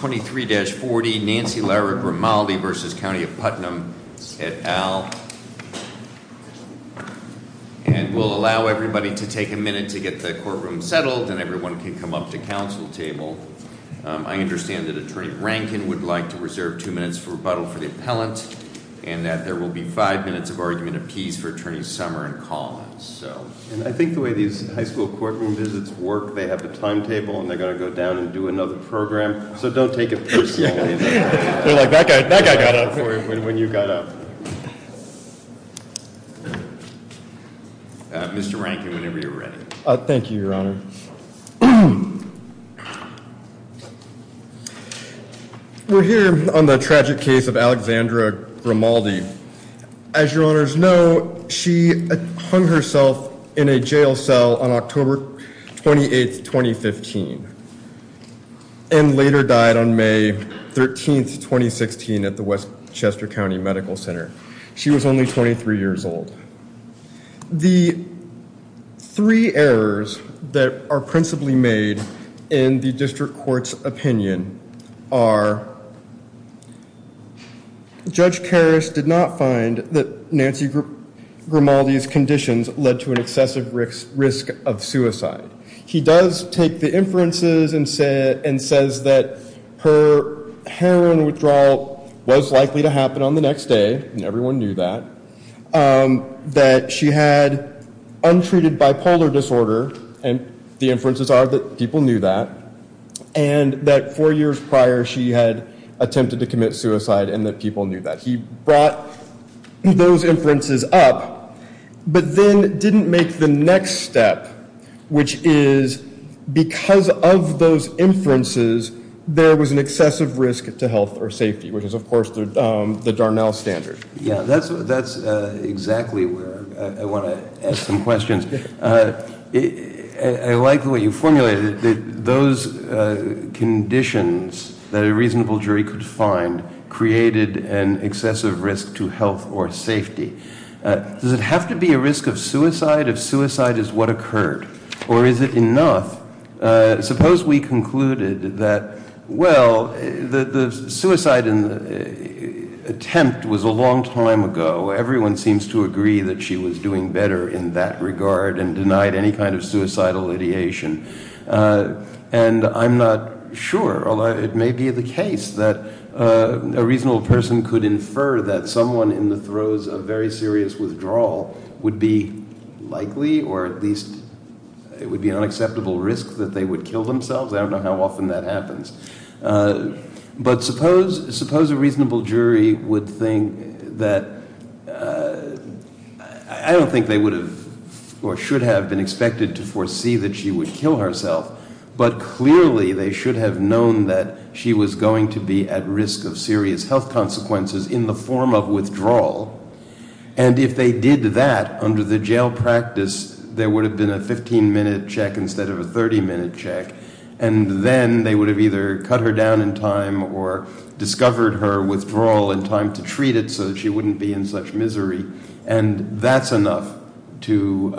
23-40 Nancy Lara-Grimaldi v. County of Putnam, et al. And we'll allow everybody to take a minute to get the courtroom settled and everyone can come up to council table. I understand that Attorney Rankin would like to reserve two minutes for rebuttal for the appellant and that there will be five minutes of argument of keys for Attorney Summer and Collins. And I think the way these high school courtroom visits work they have the timetable and they're gonna go down and do another program. So don't take it personally. They're like, that guy got up for it when you got up. Mr. Rankin, whenever you're ready. Thank you, your honor. We're here on the tragic case of Alexandra Grimaldi. As your honors know, she hung herself in a jail cell on October 28th, 2015. And later died on May 13th, 2016 at the West Chester County Medical Center. She was only 23 years old. The three errors that are principally made in the district court's opinion are Judge Karras did not find that Nancy Grimaldi's conditions led to an excessive risk of suicide. He does take the inferences and says that her heroin withdrawal was likely to happen on the next day. And everyone knew that. That she had untreated bipolar disorder. And the inferences are that people knew that. And that four years prior she had attempted to commit suicide and that people knew that. He brought those inferences up but then didn't make the next step which is because of those inferences there was an excessive risk to health or safety which is of course the Darnell standard. Yeah, that's exactly where I want to ask some questions. I like the way you formulated it. Those conditions that a reasonable jury could find created an excessive risk to health or safety. Does it have to be a risk of suicide if suicide is what occurred? Or is it enough? Suppose we concluded that well, the suicide attempt was a long time ago. Everyone seems to agree that she was doing better in that regard and denied any kind of suicidal ideation. And I'm not sure, although it may be the case that a reasonable person could infer that someone in the throes of very serious withdrawal would be likely or at least it would be an unacceptable risk that they would kill themselves. I don't know how often that happens. But suppose a reasonable jury would think that, I don't think they would have or should have been expected to foresee that she would kill herself but clearly they should have known that she was going to be at risk of serious health consequences in the form of withdrawal. And if they did that under the jail practice, there would have been a 15 minute check instead of a 30 minute check. And then they would have either cut her down in time or discovered her withdrawal in time to treat it so that she wouldn't be in such misery. And that's enough to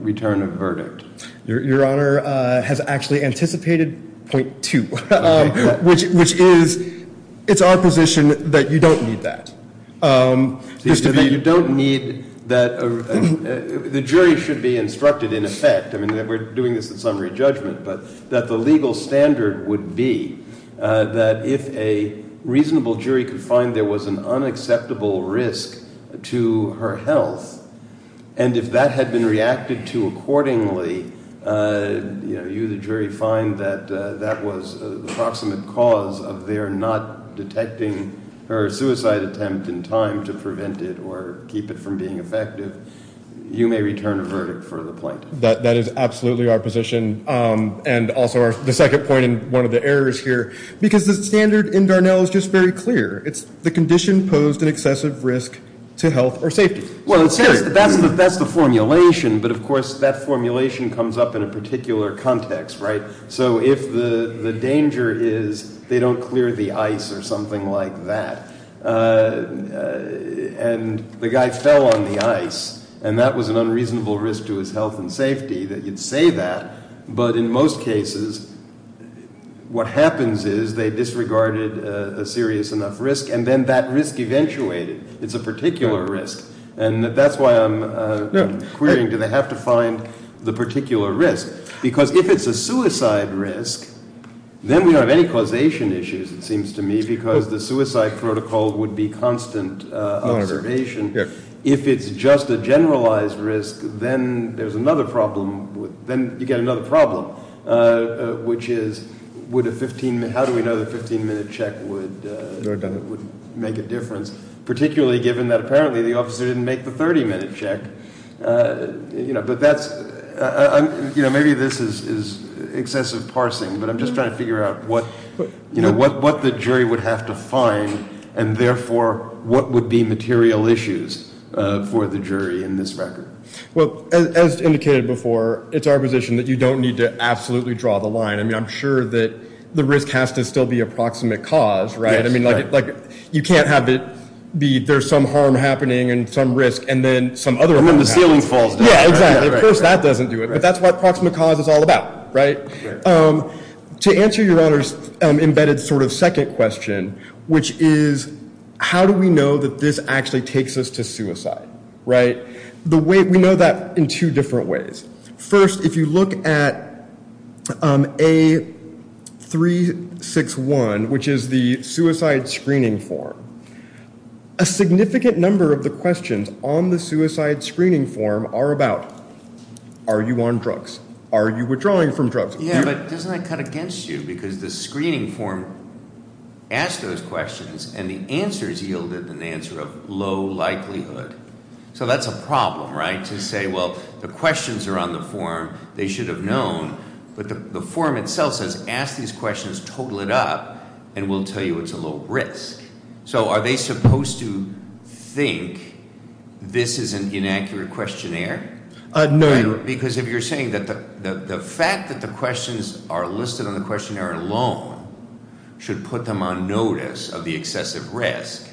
return a verdict. Your Honor has actually anticipated point two, which is it's our position that you don't need that. You don't need that. The jury should be instructed in effect. I mean, we're doing this in summary judgment but that the legal standard would be that if a reasonable jury could find there was an unacceptable risk to her health and if that had been reacted to accordingly, you the jury find that that was the proximate cause of their not detecting her suicide attempt in time to prevent it or keep it from being effective, you may return a verdict for the plaintiff. That is absolutely our position. And also the second point in one of the errors here because the standard in Darnell is just very clear. It's the condition posed an excessive risk to health or safety. Well, that's the formulation, but of course that formulation comes up in a particular context, right? So if the danger is they don't clear the ice or something like that and the guy fell on the ice and that was an unreasonable risk to his health and safety that you'd say that, but in most cases, what happens is they disregarded a serious enough risk and then that risk eventuated. It's a particular risk. And that's why I'm querying, do they have to find the particular risk? Because if it's a suicide risk, then we don't have any causation issues, it seems to me, because the suicide protocol would be constant observation. If it's just a generalized risk, then there's another problem with, then you get another problem, which is would a 15 minute, how do we know the 15 minute check would make a difference? Particularly given that apparently the officer didn't make the 30 minute check, but that's, maybe this is excessive parsing, but I'm just trying to figure out what the jury would have to find and therefore, what would be material issues for the jury in this record? Well, as indicated before, it's our position that you don't need to absolutely draw the line. I mean, I'm sure that the risk has to still be approximate cause, right? I mean, like you can't have it be, there's some harm happening and some risk and then some other harm happens. And then the ceiling falls down. Yeah, exactly. Of course, that doesn't do it, but that's what approximate cause is all about, right? To answer your honor's embedded sort of second question, which is how do we know that this actually takes us to suicide, right? The way, we know that in two different ways. First, if you look at A361, which is the suicide screening form, a significant number of the questions on the suicide screening form are about, are you on drugs? Are you withdrawing from drugs? Yeah, but doesn't that cut against you? Because the screening form asked those questions and the answers yielded an answer of low likelihood. So that's a problem, right? To say, well, the questions are on the form, they should have known, but the form itself says, ask these questions, total it up and we'll tell you it's a low risk. So are they supposed to think this is an inaccurate questionnaire? No, your honor. Because if you're saying that the fact that the questions are listed on the questionnaire alone should put them on notice of the excessive risk,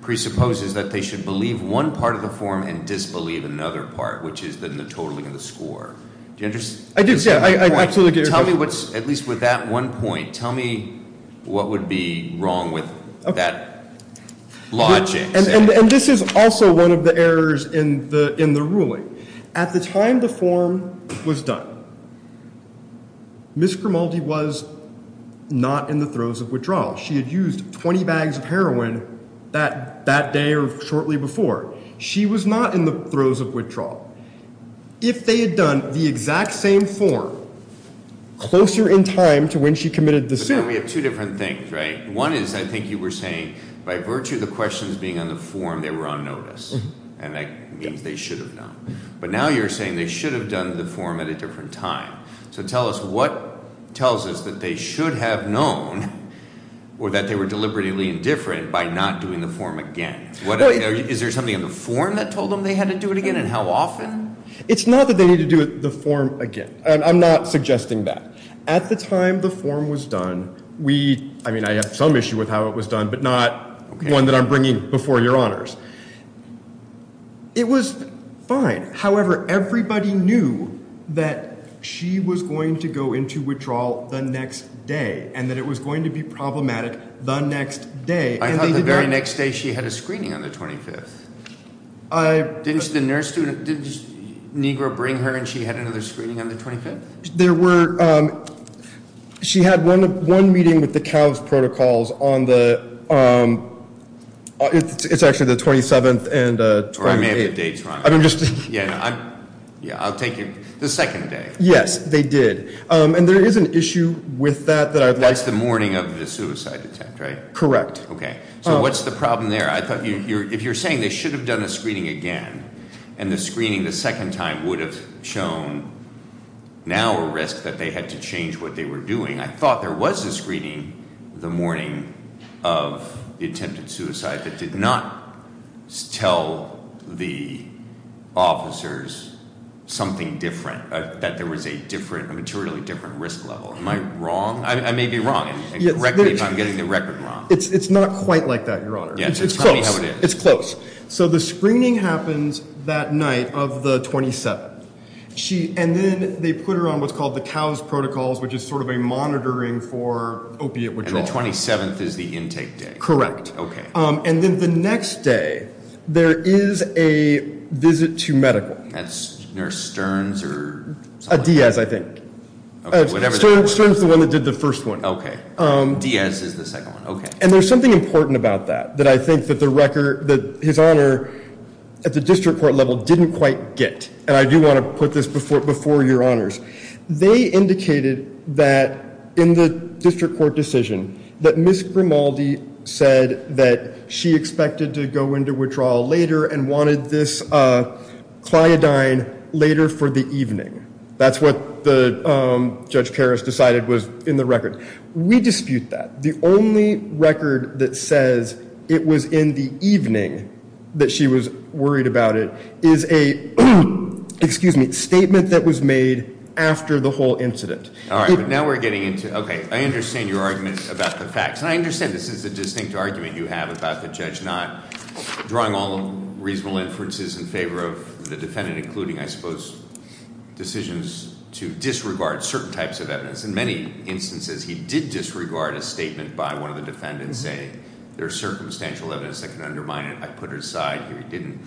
presupposes that they should believe one part of the form and disbelieve another part, which is the totaling of the score. Do you understand? I do, sir, I absolutely do. At least with that one point, tell me what would be wrong with it. That logic. And this is also one of the errors in the ruling. At the time the form was done, Ms. Grimaldi was not in the throes of withdrawal. She had used 20 bags of heroin that day or shortly before. She was not in the throes of withdrawal. If they had done the exact same form, closer in time to when she committed the suit. But now we have two different things, right? One is, I think you were saying, by virtue of the questions being on the form, they were on notice. And that means they should have known. But now you're saying they should have done the form at a different time. So tell us what tells us that they should have known or that they were deliberately indifferent by not doing the form again. Is there something in the form that told them they had to do it again and how often? It's not that they need to do the form again. And I'm not suggesting that. At the time the form was done, we, I mean, I have some issue with how it was done, but not one that I'm bringing before your honors. It was fine. However, everybody knew that she was going to go into withdrawal the next day and that it was going to be problematic the next day. I thought the very next day she had a screening on the 25th. Didn't the nurse student, did Negro bring her and she had another screening on the 25th? There were, she had one meeting with the CALS protocols on the, it's actually the 27th and 28th. Or I may have the dates wrong. Yeah, I'll take your, the second day. Yes, they did. And there is an issue with that that I'd like to- That's the morning of the suicide attempt, right? Correct. Okay, so what's the problem there? I thought if you're saying they should have done a screening again and the screening the second time would have shown now a risk that they had to change what they were doing. I thought there was a screening the morning of the attempted suicide that did not tell the officers something different, that there was a different, a materially different risk level. Am I wrong? I may be wrong and correct me if I'm getting the record wrong. It's not quite like that, your honor. Yeah, so tell me how it is. It's close. So the screening happens that night of the 27th. And then they put her on what's called the COWS protocols, which is sort of a monitoring for opiate withdrawal. And the 27th is the intake day? Correct. Okay. And then the next day, there is a visit to medical. That's Nurse Stern's or something? A Diaz, I think. Okay, whatever that was. Stern's the one that did the first one. Okay, Diaz is the second one, okay. And there's something important about that, that I think that the record, that his honor at the district court level didn't quite get. And I do want to put this before your honors. They indicated that in the district court decision, that Ms. Grimaldi said that she expected to go into withdrawal later and wanted this cliodine later for the evening. That's what Judge Karas decided was in the record. We dispute that. The only record that says it was in the evening that she was worried about it is a, excuse me, statement that was made after the whole incident. All right, but now we're getting into, okay, I understand your argument about the facts. And I understand this is a distinct argument you have about the judge not drawing all reasonable inferences in favor of the defendant, including, I suppose, decisions to disregard certain types of evidence. In many instances, he did disregard a statement by one of the defendants saying, there's circumstantial evidence that can undermine it. I put it aside, here he didn't.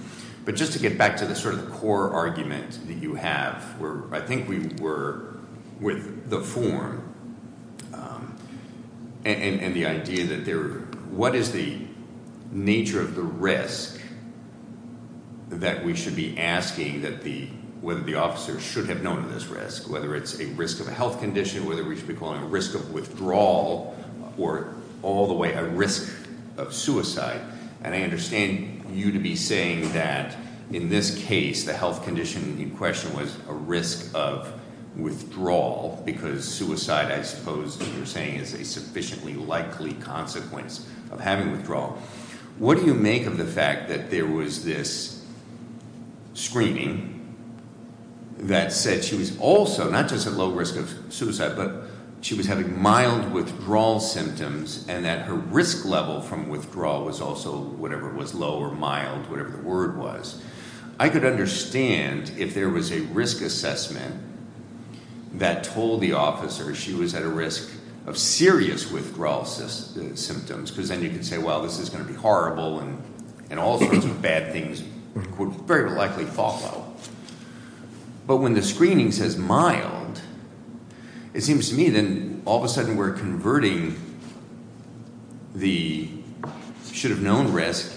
But just to get back to the sort of the core argument that you have, where I think we were with the form and the idea that there, what is the nature of the risk that we should be asking that the, whether the officer should have known this risk, whether it's a risk of a health condition, whether we should be calling a risk of withdrawal or all the way a risk of suicide. And I understand you to be saying that, in this case, the health condition in question was a risk of withdrawal because suicide, I suppose, you're saying, is a sufficiently likely consequence of having withdrawal. What do you make of the fact that there was this screening that said she was also, not just at low risk of suicide, but she was having mild withdrawal symptoms and that her risk level from withdrawal was also whatever it was, low or mild, whatever the word was. I could understand if there was a risk assessment that told the officer she was at a risk of serious withdrawal symptoms, because then you can say, well, this is gonna be horrible and all sorts of bad things would very likely follow. But when the screening says mild, it seems to me, then all of a sudden we're converting the should have known risk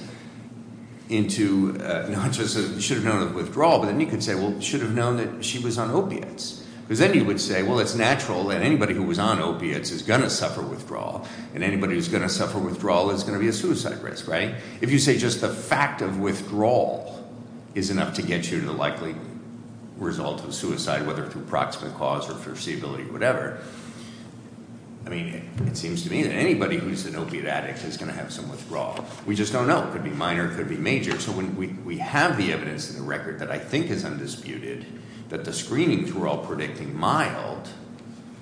into, not just should have known of withdrawal, but then you could say, well, should have known that she was on opiates. Because then you would say, well, it's natural that anybody who was on opiates is gonna suffer withdrawal and anybody who's gonna suffer withdrawal is gonna be a suicide risk, right? If you say just the fact of withdrawal is enough to get you to the likely result of suicide, whether through proximate cause or foreseeability or whatever. I mean, it seems to me that anybody who's an opiate addict is gonna have some withdrawal. We just don't know. It could be minor, it could be major. So when we have the evidence in the record that I think is undisputed, that the screenings were all predicting mild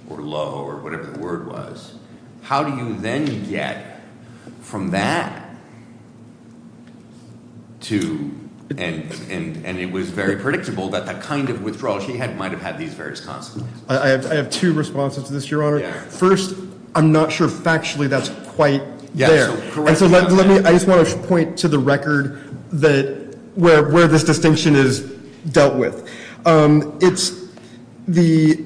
or low or whatever the word was, how do you then get from that to, and it was very predictable, that the kind of withdrawal she had might've had these various consequences. I have two responses to this, Your Honor. First, I'm not sure factually that's quite there. And so let me, I just want to point to the record that where this distinction is dealt with. It's the,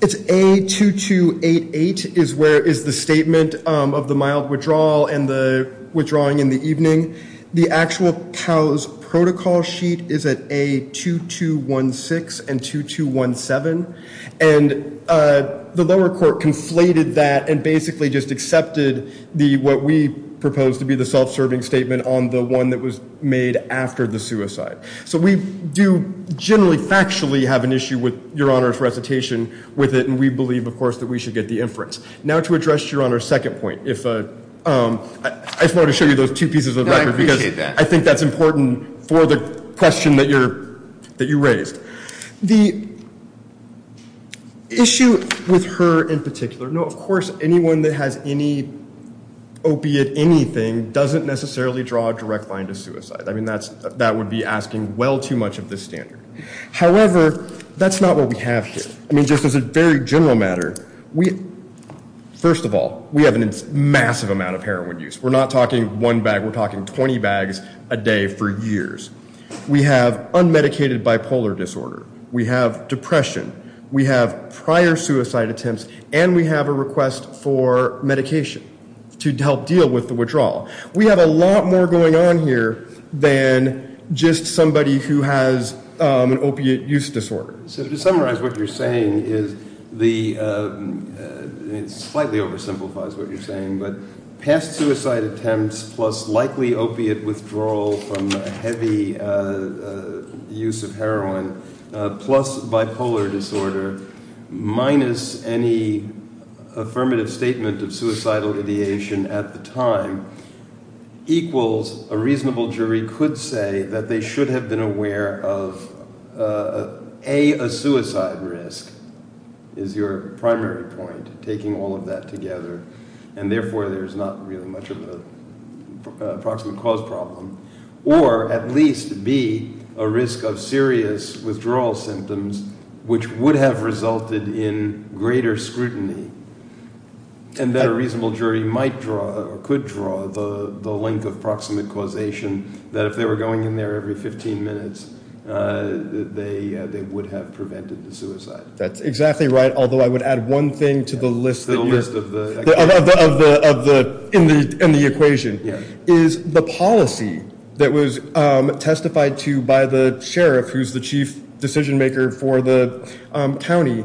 it's A2288 is where is the statement of the mild withdrawal and the withdrawing in the evening. The actual COWS protocol sheet is at A2216 and 2217. And the lower court conflated that and basically just accepted the, what we propose to be the self-serving statement on the one that was made after the suicide. So we do generally factually have an issue with Your Honor's recitation with it. And we believe of course, that we should get the inference. Now to address Your Honor's second point, if, I just wanted to show you those two pieces of the record because I think that's important for the question that you raised. The issue with her in particular, no, of course, anyone that has any opiate, anything doesn't necessarily draw a direct line to suicide. I mean, that would be asking well too much of the standard. However, that's not what we have here. I mean, just as a very general matter, we, first of all, we have a massive amount of heroin use. We're not talking one bag, we're talking 20 bags a day for years. We have unmedicated bipolar disorder. We have depression. We have prior suicide attempts and we have a request for medication to help deal with the withdrawal. We have a lot more going on here than just somebody who has an opiate use disorder. So to summarize what you're saying is the, it slightly oversimplifies what you're saying, but past suicide attempts plus likely opiate withdrawal from heavy use of heroin plus bipolar disorder minus any affirmative statement of suicidal ideation at the time equals a reasonable jury could say that they should have been aware of A, a suicide risk is your primary point, taking all of that together. And therefore there's not really much of a proximate cause problem, or at least B, a risk of serious withdrawal symptoms which would have resulted in greater scrutiny and that a reasonable jury might draw or could draw the link of proximate causation that if they were going in there every 15 minutes that they would have prevented the suicide. That's exactly right, although I would add one thing to the list that you're, The list of the, Of the, in the equation. Yeah. Is the policy that was testified to by the sheriff who's the chief decision maker for the county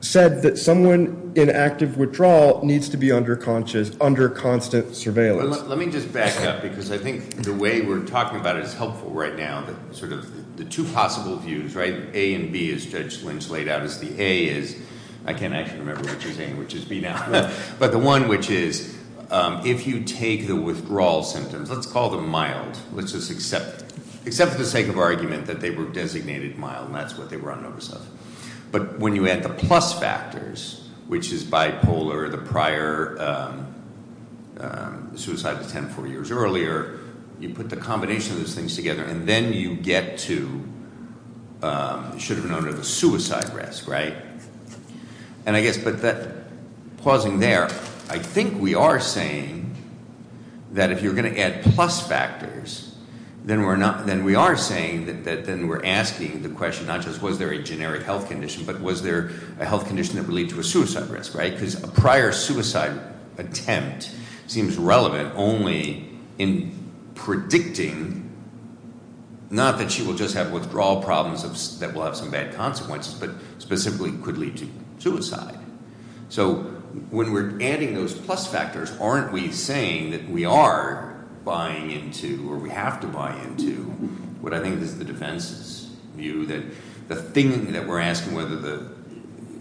said that someone in active withdrawal needs to be under constant surveillance. Let me just back up because I think the way we're talking about it is helpful right now but sort of the two possible views, right? A and B as Judge Lynch laid out as the A is, I can't actually remember which is A and which is B now. But the one which is, if you take the withdrawal symptoms, let's call them mild, let's just accept it. Except for the sake of argument that they were designated mild and that's what they were on notice of. But when you add the plus factors, which is bipolar, the prior suicide attempt four years earlier, you put the combination of those things together and then you get to, should have been under the suicide risk, right? And I guess, but that, pausing there, I think we are saying that if you're going to add plus factors, then we're not, then we are saying that then we're asking the question not just was there a generic health condition but was there a health condition that would lead to a suicide risk, right? Because a prior suicide attempt seems relevant only in predicting, not that she will just have withdrawal problems that will have some bad consequences but specifically could lead to suicide. So when we're adding those plus factors, aren't we saying that we are buying into or we have to buy into what I think is the defense's view that the thing that we're asking whether the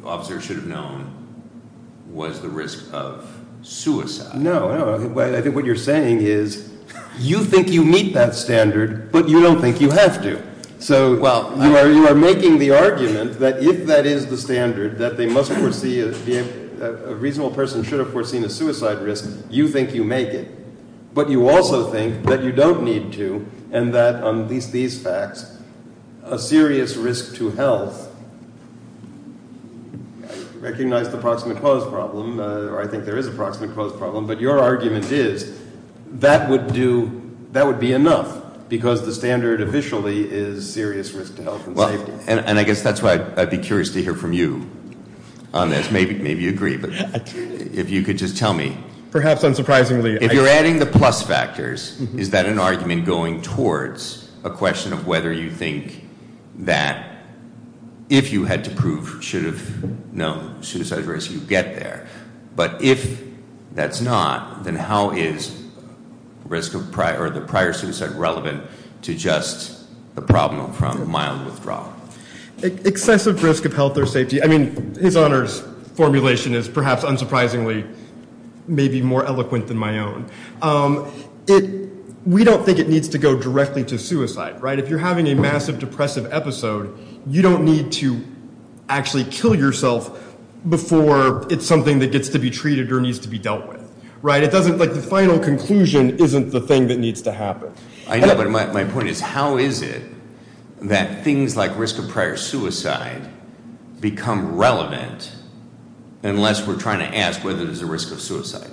officer should have known was the risk of suicide? No, I don't know. I think what you're saying is you think you meet that standard but you don't think you have to. So you are making the argument that if that is the standard that a reasonable person should have foreseen a suicide risk, you think you make it. But you also think that you don't need to and that on these facts, a serious risk to health, I recognize the proximate cause problem or I think there is a proximate cause problem but your argument is that would be enough because the standard officially is serious risk to health and safety. And I guess that's why I'd be curious to hear from you on this. Maybe you agree but if you could just tell me. Perhaps unsurprisingly. If you're adding the plus factors, is that an argument going towards a question of whether you think that if you had to prove should have known suicide risk, you get there. But if that's not, then how is the prior suicide relevant to just the problem from mild withdrawal? Excessive risk of health or safety. I mean, his honors formulation is perhaps unsurprisingly maybe more eloquent than my own. We don't think it needs to go directly to suicide, right? If you're having a massive depressive episode, you don't need to actually kill yourself before it's something that gets to be treated or needs to be dealt with, right? It doesn't, like the final conclusion isn't the thing that needs to happen. I know, but my point is how is it that things like risk of prior suicide become relevant unless we're trying to ask whether there's a risk of suicide?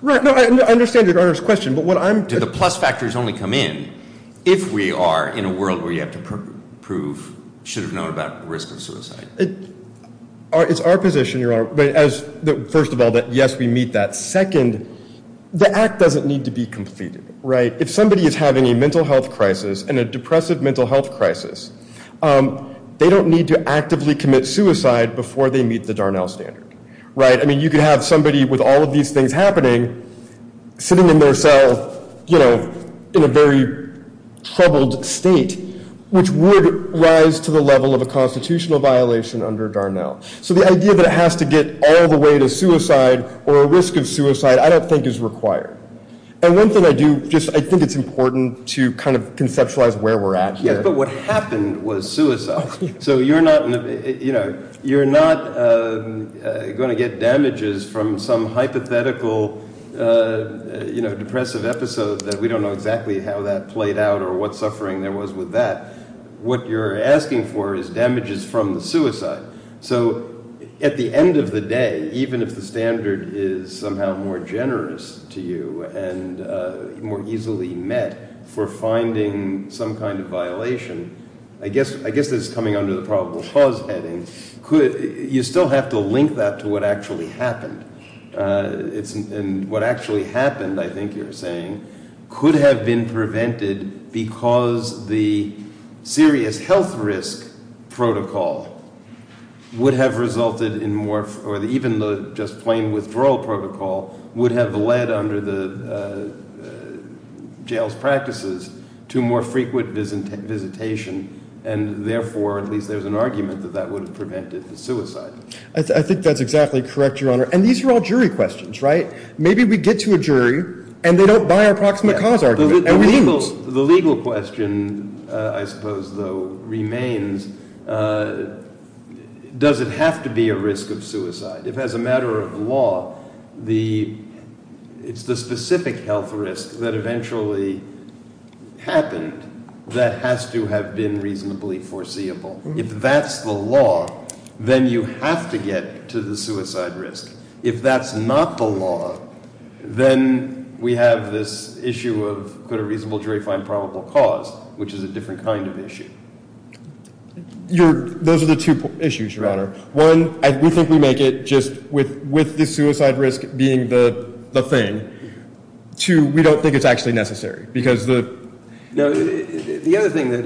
Right, no, I understand your honors question but what I'm- Do the plus factors only come in if we are in a world where you have to prove should have known about risk of suicide? It's our position, your honor. First of all, that yes, we meet that. Second, the act doesn't need to be completed, right? If somebody is having a mental health crisis and a depressive mental health crisis, they don't need to actively commit suicide before they meet the Darnell standard, right? I mean, you could have somebody with all of these things happening sitting in their cell, you know, in a very troubled state, which would rise to the level of a constitutional violation under Darnell. So the idea that it has to get all the way to suicide or a risk of suicide, I don't think is required. And one thing I do, just I think it's important to kind of conceptualize where we're at here. Yes, but what happened was suicide. So you're not, you know, you're not gonna get damages from some hypothetical, you know, depressive episode that we don't know exactly how that played out or what suffering there was with that. What you're asking for is damages from the suicide. So at the end of the day, even if the standard is somehow more generous to you and more easily met for finding some kind of violation, I guess this is coming under the probable cause heading, could you still have to link that to what actually happened? And what actually happened, I think you're saying, could have been prevented because the serious health risk protocol would have resulted in more, or even the just plain withdrawal protocol would have led under the jail's practices to more frequent visitation. And therefore, at least there's an argument that that would have prevented the suicide. I think that's exactly correct, Your Honor. And these are all jury questions, right? Maybe we get to a jury and they don't buy our proximate cause argument. The legal question, I suppose, though, remains, does it have to be a risk of suicide? If as a matter of law, it's the specific health risk that eventually happened that has to have been reasonably foreseeable. If that's the law, then you have to get to the suicide risk. If that's not the law, then we have this issue of, could a reasonable jury find probable cause, which is a different kind of issue. Those are the two issues, Your Honor. One, we think we make it just with the suicide risk being the thing. Two, we don't think it's actually necessary because the... The other thing that,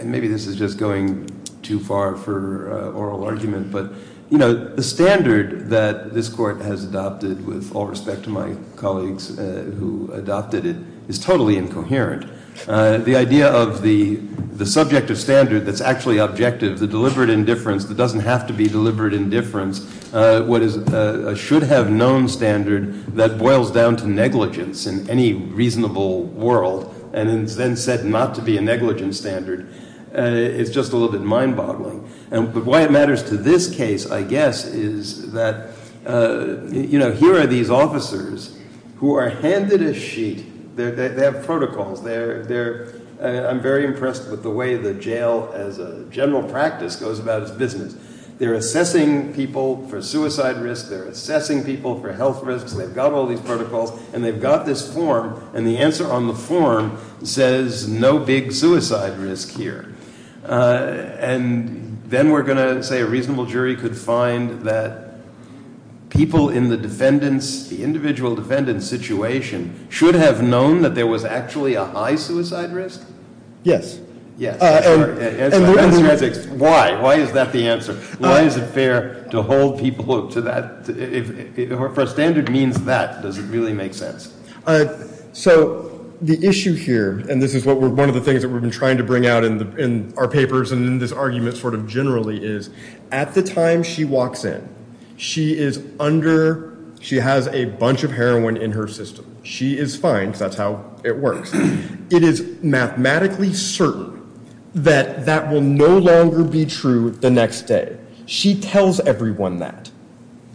and maybe this is just going too far for oral argument, but the standard that this court has adopted with all respect to my colleagues who adopted it is totally incoherent. The idea of the subjective standard that's actually objective, the deliberate indifference that doesn't have to be deliberate indifference, what is a should have known standard that boils down to negligence in any reasonable world and is then said not to be a negligence standard. It's just a little bit mind boggling. But why it matters to this case, I guess, is that here are these officers who are handed a sheet. They have protocols. I'm very impressed with the way the jail as a general practice goes about its business. They're assessing people for suicide risk. They're assessing people for health risks. They've got all these protocols and they've got this form. And the answer on the form says no big suicide risk here. And then we're gonna say a reasonable jury could find that people in the defendants, the individual defendants' situation should have known that there was actually a high suicide risk? Yes. Yes, that's correct. Why? Why is that the answer? Why is it fair to hold people to that? For a standard means that. Does it really make sense? So the issue here, and this is one of the things that we've been trying to bring out in our papers and in this argument sort of generally is, at the time she walks in, she is under, she has a bunch of heroin in her system. She is fine, because that's how it works. It is mathematically certain that that will no longer be true the next day. She tells everyone that.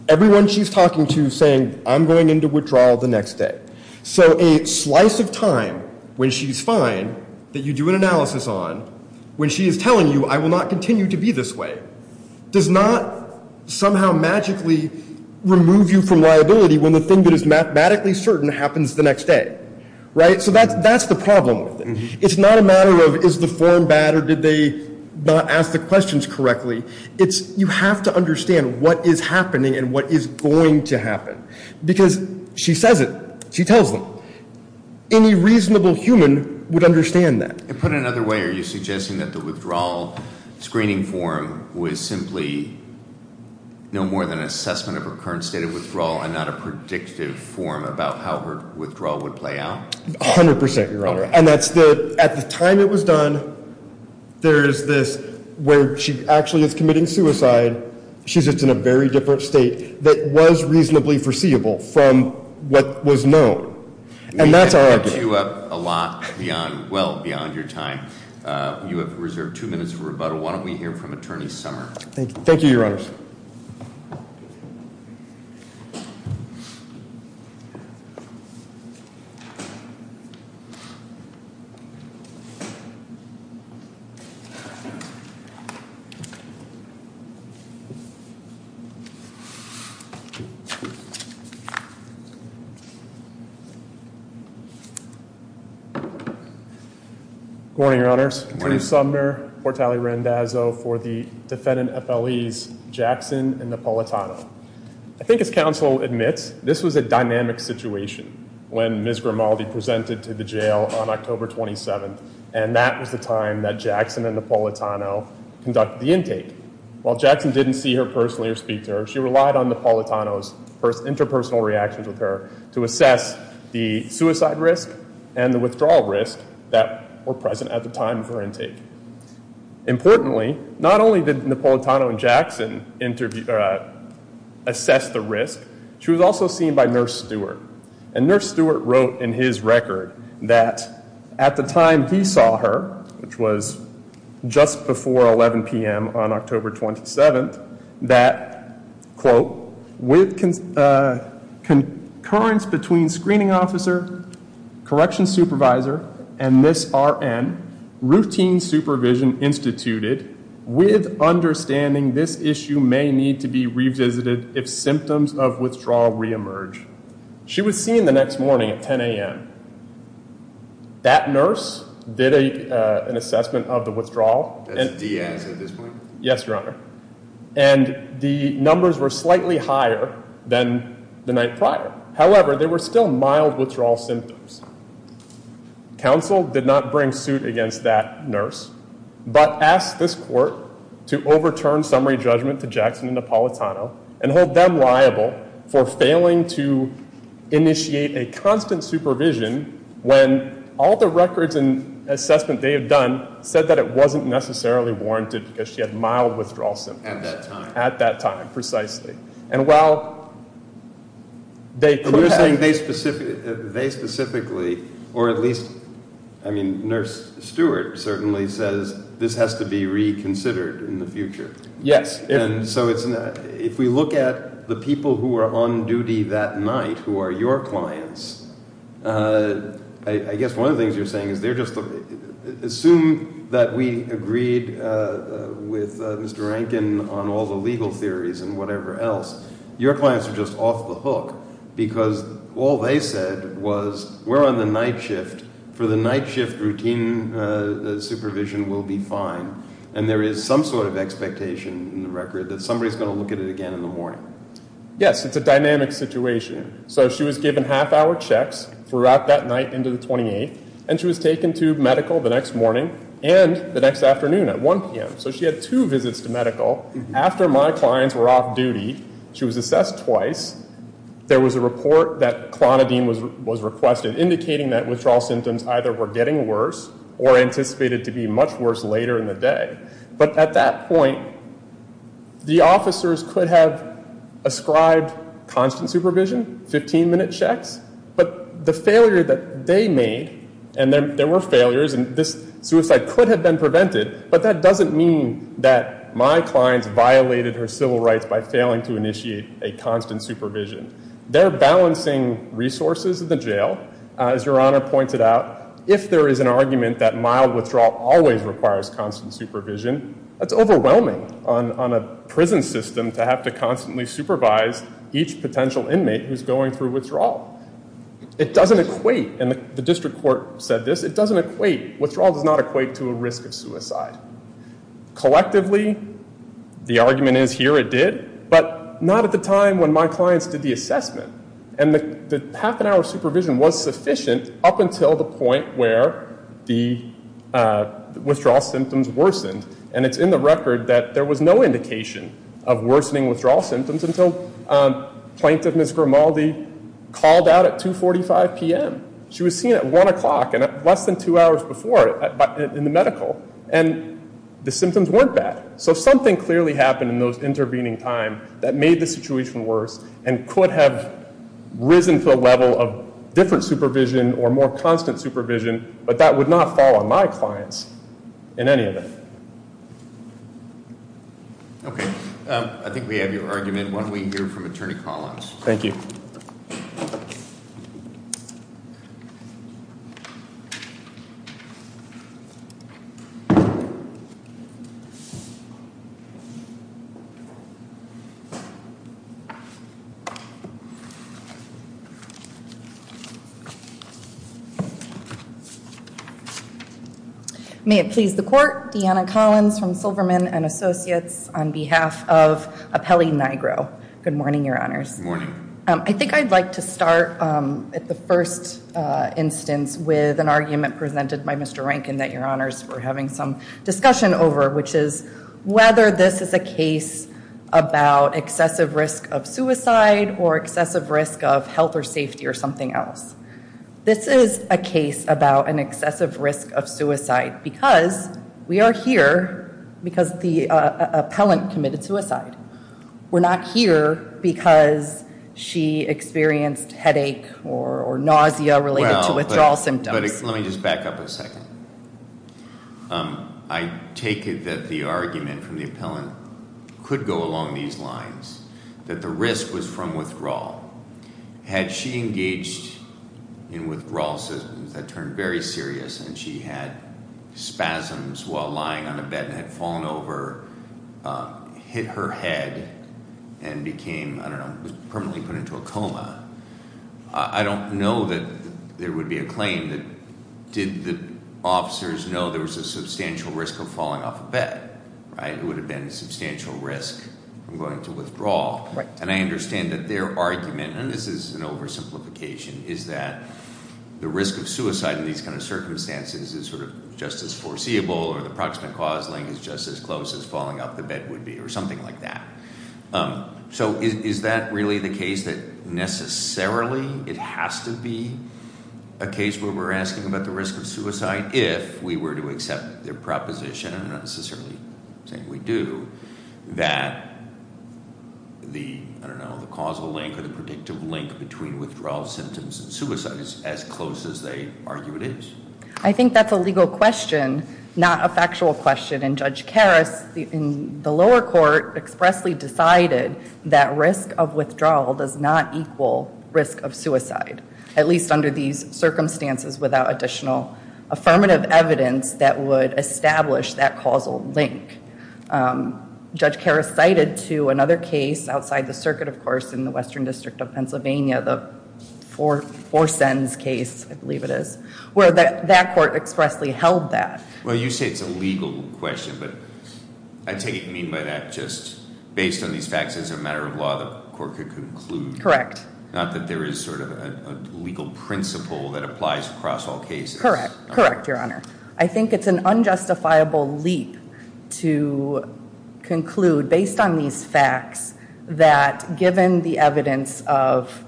Everyone she's talking to saying, I'm going into withdrawal the next day. So a slice of time when she's fine, that you do an analysis on, when she is telling you, I will not continue to be this way, does not somehow magically remove you from liability when the thing that is mathematically certain happens the next day, right? So that's the problem with it. It's not a matter of, is the form bad or did they not ask the questions correctly? It's you have to understand what is happening and what is going to happen. Because she says it, she tells them. Any reasonable human would understand that. And put it another way, are you suggesting that the withdrawal screening form was simply no more than an assessment of her current state of withdrawal and not a predictive form about how her withdrawal would play out? 100%, Your Honor. And that's the, at the time it was done, there is this where she actually is committing suicide. She's just in a very different state that was reasonably foreseeable from what was known. And that's our argument. We can't queue up a lot beyond, well, beyond your time. You have reserved two minutes for rebuttal. Why don't we hear from Attorney Summer? Thank you, Your Honors. Thank you. Good morning, Your Honors. Good morning. Attorney Summer Portale-Rendazzo for the defendant FLEs Jackson and Napolitano. I think as counsel admits, this was a dynamic situation when Ms. Grimaldi presented to the jail on October 27th. And that was the time that Jackson and Napolitano conducted the intake. While Jackson didn't see her personally or speak to her, she relied on Napolitano's interpersonal reactions with her to assess the suicide risk and the withdrawal risk that were present at the time of her intake. Importantly, not only did Napolitano and Jackson assess the risk, she was also seen by Nurse Stewart. And Nurse Stewart wrote in his record that at the time he saw her, which was just before 11 p.m. on October 27th, that, quote, with concurrence between screening officer, correction supervisor, and this RN, routine supervision instituted with understanding this issue may need to be revisited if symptoms of withdrawal reemerge. She was seen the next morning at 10 a.m. That nurse did an assessment of the withdrawal. That's Diaz at this point? Yes, Your Honor. And the numbers were slightly higher than the night prior. However, there were still mild withdrawal symptoms. Counsel did not bring suit against that nurse, but asked this court to overturn summary judgment to Jackson and Napolitano and hold them liable for failing to initiate a constant supervision when all the records and assessment they had done said that it wasn't necessarily warranted because she had mild withdrawal symptoms. At that time. At that time, precisely. And while they could have- And you're saying they specifically, or at least, I mean, Nurse Stewart certainly says this has to be reconsidered in the future. Yes. And so if we look at the people who were on duty that night who are your clients, I guess one of the things you're saying is they're just, assume that we agreed with Mr. Rankin on all the legal theories and whatever else. Your clients are just off the hook because all they said was we're on the night shift for the night shift routine supervision will be fine. And there is some sort of expectation in the record that somebody is going to look at it again in the morning. Yes, it's a dynamic situation. So she was given half hour checks throughout that night into the 28th. And she was taken to medical the next morning and the next afternoon at 1 p.m. So she had two visits to medical after my clients were off duty. She was assessed twice. There was a report that Clonidine was requested indicating that withdrawal symptoms either were getting worse or anticipated to be much worse later in the day. But at that point, the officers could have ascribed constant supervision, 15 minute checks, but the failure that they made, and there were failures, and this suicide could have been prevented, but that doesn't mean that my clients violated her civil rights by failing to initiate a constant supervision. They're balancing resources in the jail. As Your Honor pointed out, if there is an argument that mild withdrawal always requires constant supervision, that's overwhelming on a prison system to have to constantly supervise each potential inmate who's going through withdrawal. It doesn't equate, and the district court said this, it doesn't equate, withdrawal does not equate to a risk of suicide. Collectively, the argument is here it did, but not at the time when my clients did the assessment. And the half an hour of supervision was sufficient up until the point where the withdrawal symptoms worsened. And it's in the record that there was no indication of worsening withdrawal symptoms until Plaintiff Ms. Grimaldi called out at 2.45 p.m. She was seen at one o'clock and at less than two hours before in the medical, and the symptoms weren't bad. So something clearly happened in those intervening time that made the situation worse and could have risen to a level of different supervision or more constant supervision, but that would not fall on my clients in any of it. Okay, I think we have your argument. Why don't we hear from Attorney Collins? Thank you. May it please the court, Deanna Cronin, Deanna Collins from Silverman and Associates on behalf of Apelli Nigro. Good morning, your honors. Good morning. I think I'd like to start at the first instance with an argument presented by Mr. Rankin that your honors were having some discussion over, which is whether this is a case about excessive risk of suicide or excessive risk of health or safety or something else. This is a case about an excessive risk of suicide because we are here because the appellant committed suicide. We're not here because she experienced headache or nausea related to withdrawal symptoms. Let me just back up a second. I take it that the argument from the appellant could go along these lines, that the risk was from withdrawal. Had she engaged in withdrawal systems that turned very serious and she had spasms while lying on a bed and had fallen over, hit her head, and became, I don't know, permanently put into a coma. I don't know that there would be a claim that did the officers know there was a substantial risk of falling off a bed, right? It would have been a substantial risk from going into withdrawal. And I understand that their argument, and this is an oversimplification, is that the risk of suicide in these kind of circumstances is sort of just as foreseeable or the approximate cause link is just as close as falling off the bed would be or something like that. So is that really the case that necessarily it has to be a case where we're asking about the risk of suicide if we were to accept their proposition, and I'm not necessarily saying we do, that the, I don't know, the causal link or the predictive link between withdrawal symptoms and suicide is as close as they argue it is. I think that's a legal question, not a factual question, and Judge Karas in the lower court expressly decided that risk of withdrawal does not equal risk of suicide, at least under these circumstances without additional affirmative evidence that would establish that causal link. Judge Karas cited to another case outside the circuit, of course, in the Western District of Pennsylvania, the Four Sins case, I believe it is, where that court expressly held that. Well, you say it's a legal question, but I take it, you mean by that just based on these facts as a matter of law, the court could conclude. Correct. Not that there is sort of a legal principle that applies across all cases. Correct, correct, Your Honor. I think it's an unjustifiable leap to conclude based on these facts that given the evidence of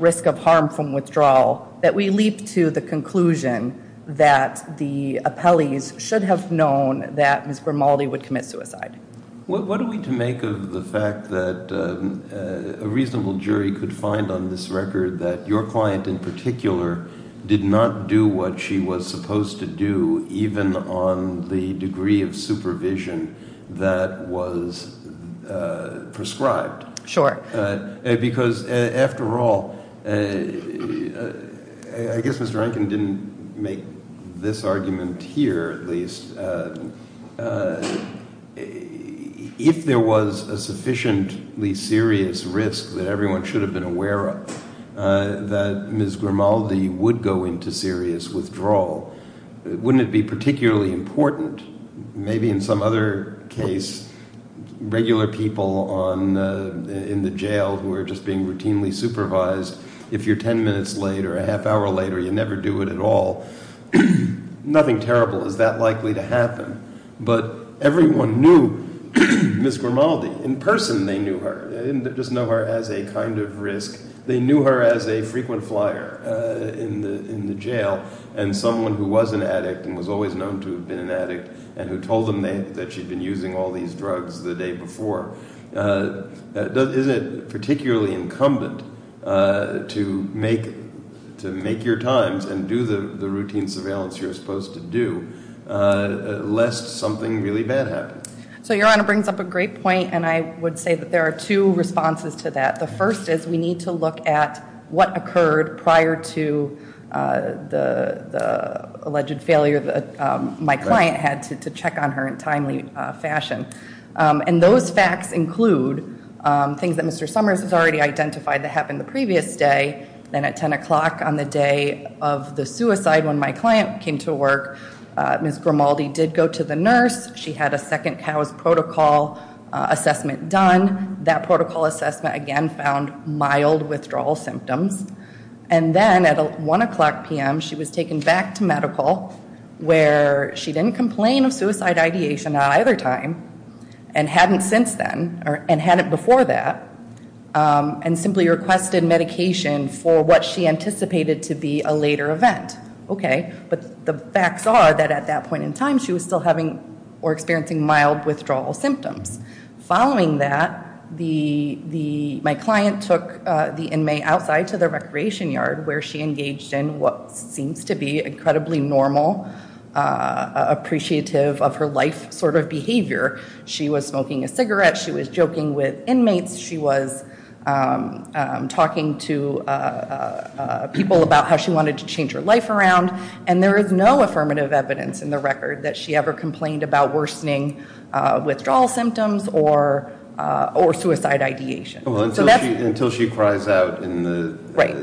risk of harm from withdrawal, that we leap to the conclusion that the appellees should have known that Ms. Grimaldi would commit suicide. What are we to make of the fact that a reasonable jury could find on this record that your client in particular did not do what she was supposed to do even on the degree of supervision that was prescribed? Sure. Because after all, I guess Mr. Rankin didn't make this argument here at least. If there was a sufficiently serious risk that everyone should have been aware of that Ms. Grimaldi would go into serious withdrawal, wouldn't it be particularly important, maybe in some other case, regular people in the jail who are just being routinely supervised, if you're 10 minutes late or a half hour late or you never do it at all, nothing terrible is that likely to happen. But everyone knew Ms. Grimaldi. In person they knew her, just know her as a kind of risk. They knew her as a frequent flyer in the jail and someone who was an addict and was always known to have been an addict and who told them that she'd been using all these drugs the day before. Isn't it particularly incumbent to make your times and do the routine surveillance you're supposed to do lest something really bad happens? So Your Honor brings up a great point and I would say that there are two responses to that. The first is we need to look at what occurred prior to the alleged failure that my client had to undergo. To check on her in timely fashion. And those facts include things that Mr. Summers has already identified that happened the previous day. Then at 10 o'clock on the day of the suicide when my client came to work, Ms. Grimaldi did go to the nurse. She had a second COWS protocol assessment done. That protocol assessment again found mild withdrawal symptoms. And then at one o'clock p.m. she was taken back to medical where she didn't complain of suicide ideation at either time and hadn't since then or hadn't before that and simply requested medication for what she anticipated to be a later event. Okay, but the facts are that at that point in time she was still having or experiencing mild withdrawal symptoms. Following that, my client took the inmate outside to the recreation yard where she engaged in what seems to be incredibly normal, appreciative of her life sort of behavior. She was smoking a cigarette. She was joking with inmates. She was talking to people about how she wanted to change her life around. And there is no affirmative evidence in the record that she ever complained about worsening withdrawal symptoms or suicide ideation. So that's. Until she cries out in the. Right.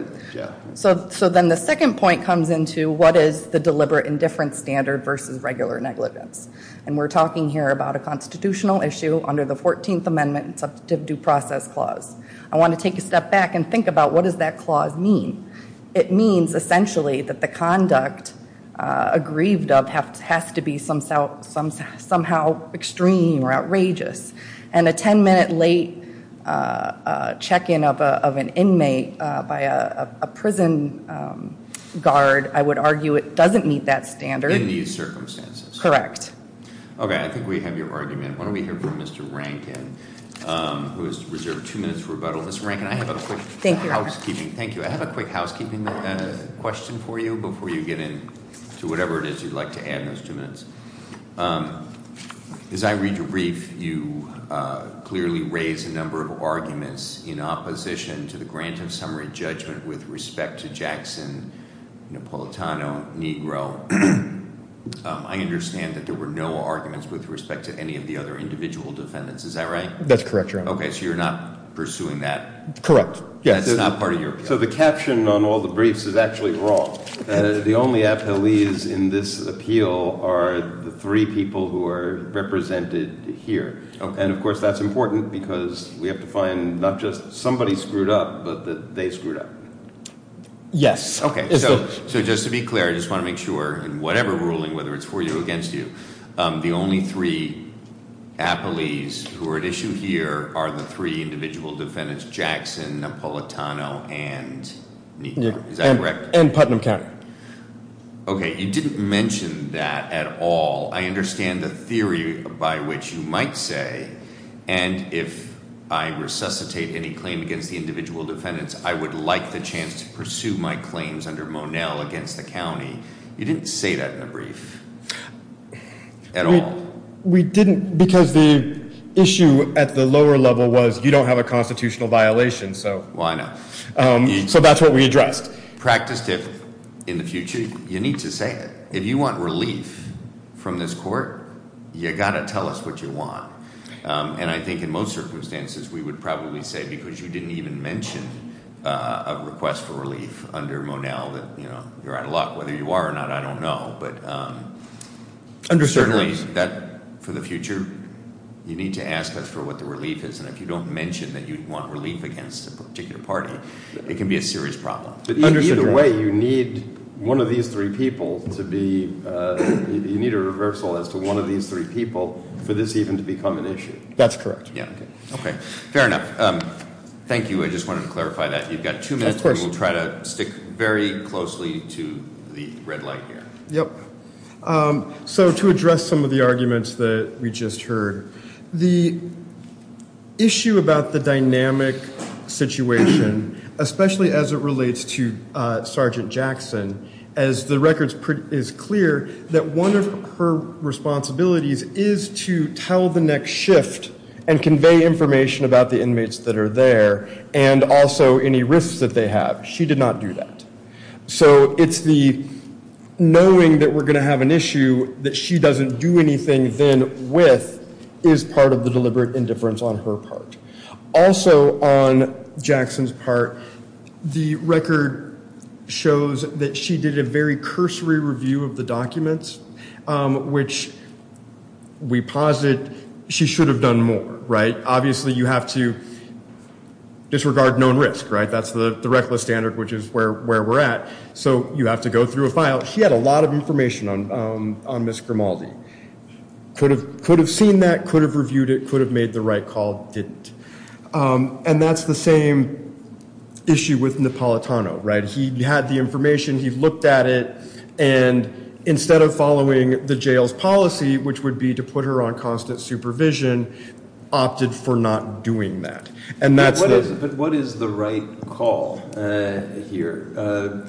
So then the second point comes into what is the deliberate indifference standard versus regular negligence. And we're talking here about a constitutional issue under the 14th Amendment and Subjective Due Process Clause. I want to take a step back and think about what does that clause mean? It means essentially that the conduct aggrieved of has to be somehow extreme or outrageous. And a 10 minute late check in of an inmate by a prison guard, I would argue it doesn't meet that standard. In these circumstances. Correct. Okay, I think we have your argument. Why don't we hear from Mr. Rankin who has reserved two minutes for rebuttal. Mr. Rankin, I have a quick housekeeping. Thank you. I have a quick housekeeping question for you before you get into whatever it is you'd like to add in those two minutes. As I read your brief, you clearly raise a number of arguments in opposition to the grant of summary judgment with respect to Jackson, Napolitano, Negro. I understand that there were no arguments with respect to any of the other individual defendants. Is that right? That's correct, Your Honor. Okay, so you're not pursuing that? Correct. That's not part of your appeal? So the caption on all the briefs is actually wrong. The only appellees in this appeal are the three people who are represented here. And of course that's important because we have to find not just somebody screwed up, but that they screwed up. Yes. Okay, so just to be clear, I just want to make sure in whatever ruling, whether it's for you or against you, the only three appellees who are at issue here are the three individual defendants, Jackson, Napolitano, and Negro. Is that correct? And Putnam County. Okay, you didn't mention that at all. I understand the theory by which you might say, and if I resuscitate any claim against the individual defendants, I would like the chance to pursue my claims under Monell against the county. You didn't say that in the brief at all. We didn't because the issue at the lower level was you don't have a constitutional violation, so. Why not? So that's what we addressed. Practiced if in the future, you need to say it. If you want relief from this court, you gotta tell us what you want. And I think in most circumstances, we would probably say because you didn't even mention a request for relief under Monell that you're out of luck. Whether you are or not, I don't know. But certainly for the future, you need to ask us for what the relief is. And if you don't mention that you want relief against a particular party, it can be a serious problem. But either way, you need one of these three people to be, you need a reversal as to one of these three people for this even to become an issue. That's correct. Yeah, okay, fair enough. Thank you, I just wanted to clarify that. You've got two minutes, and we'll try to stick very closely to the red light here. Yep. So to address some of the arguments that we just heard, the issue about the dynamic situation, especially as it relates to Sergeant Jackson, as the record is clear, that one of her responsibilities is to tell the next shift and convey information about the inmates that are there and also any risks that they have. She did not do that. So it's the knowing that we're gonna have an issue that she doesn't do anything then with is part of the deliberate indifference on her part. Also on Jackson's part, the record shows that she did a very cursory review of the documents, which we posit she should have done more, right? Obviously you have to disregard known risk, right? That's the reckless standard, which is where we're at. So you have to go through a file. She had a lot of information on Ms. Grimaldi. Could have seen that, could have reviewed it, could have made the right call, didn't. And that's the same issue with Napolitano, right? He had the information, he looked at it, and instead of following the jail's policy, which would be to put her on constant supervision, opted for not doing that. And that's the- But what is the right call here?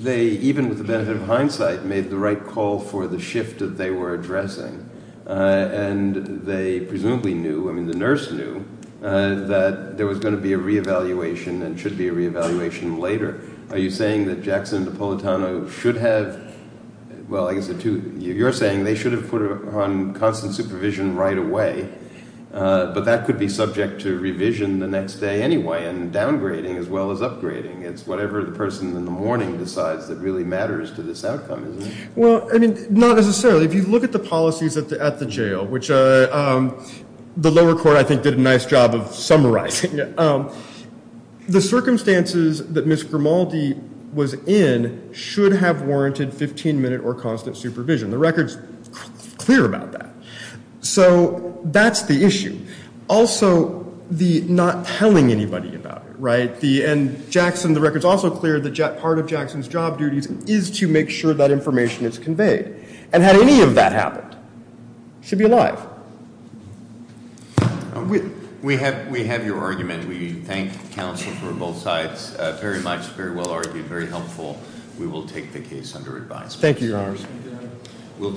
They, even with the benefit of hindsight, made the right call for the shift that they were addressing. And they presumably knew, the nurse knew, that there was gonna be a reevaluation and should be a reevaluation later. Are you saying that Jackson and Napolitano should have, well, I guess you're saying they should have put her on constant supervision right away, but that could be subject to revision the next day anyway, and downgrading as well as upgrading. It's whatever the person in the morning decides that really matters to this outcome, isn't it? Well, I mean, not necessarily. If you look at the policies at the jail, which the lower court, I think, did a nice job of summarizing it, the circumstances that Ms. Grimaldi was in should have warranted 15 minute or constant supervision. The record's clear about that. So that's the issue. Also, the not telling anybody about it, right? And Jackson, the record's also clear that part of Jackson's job duties is to make sure that information is conveyed. And had any of that happened, she'd be alive. We have your argument. We thank counsel for both sides. Very much, very well argued, very helpful. We will take the case under advice. Thank you, Your Honor. We'll turn.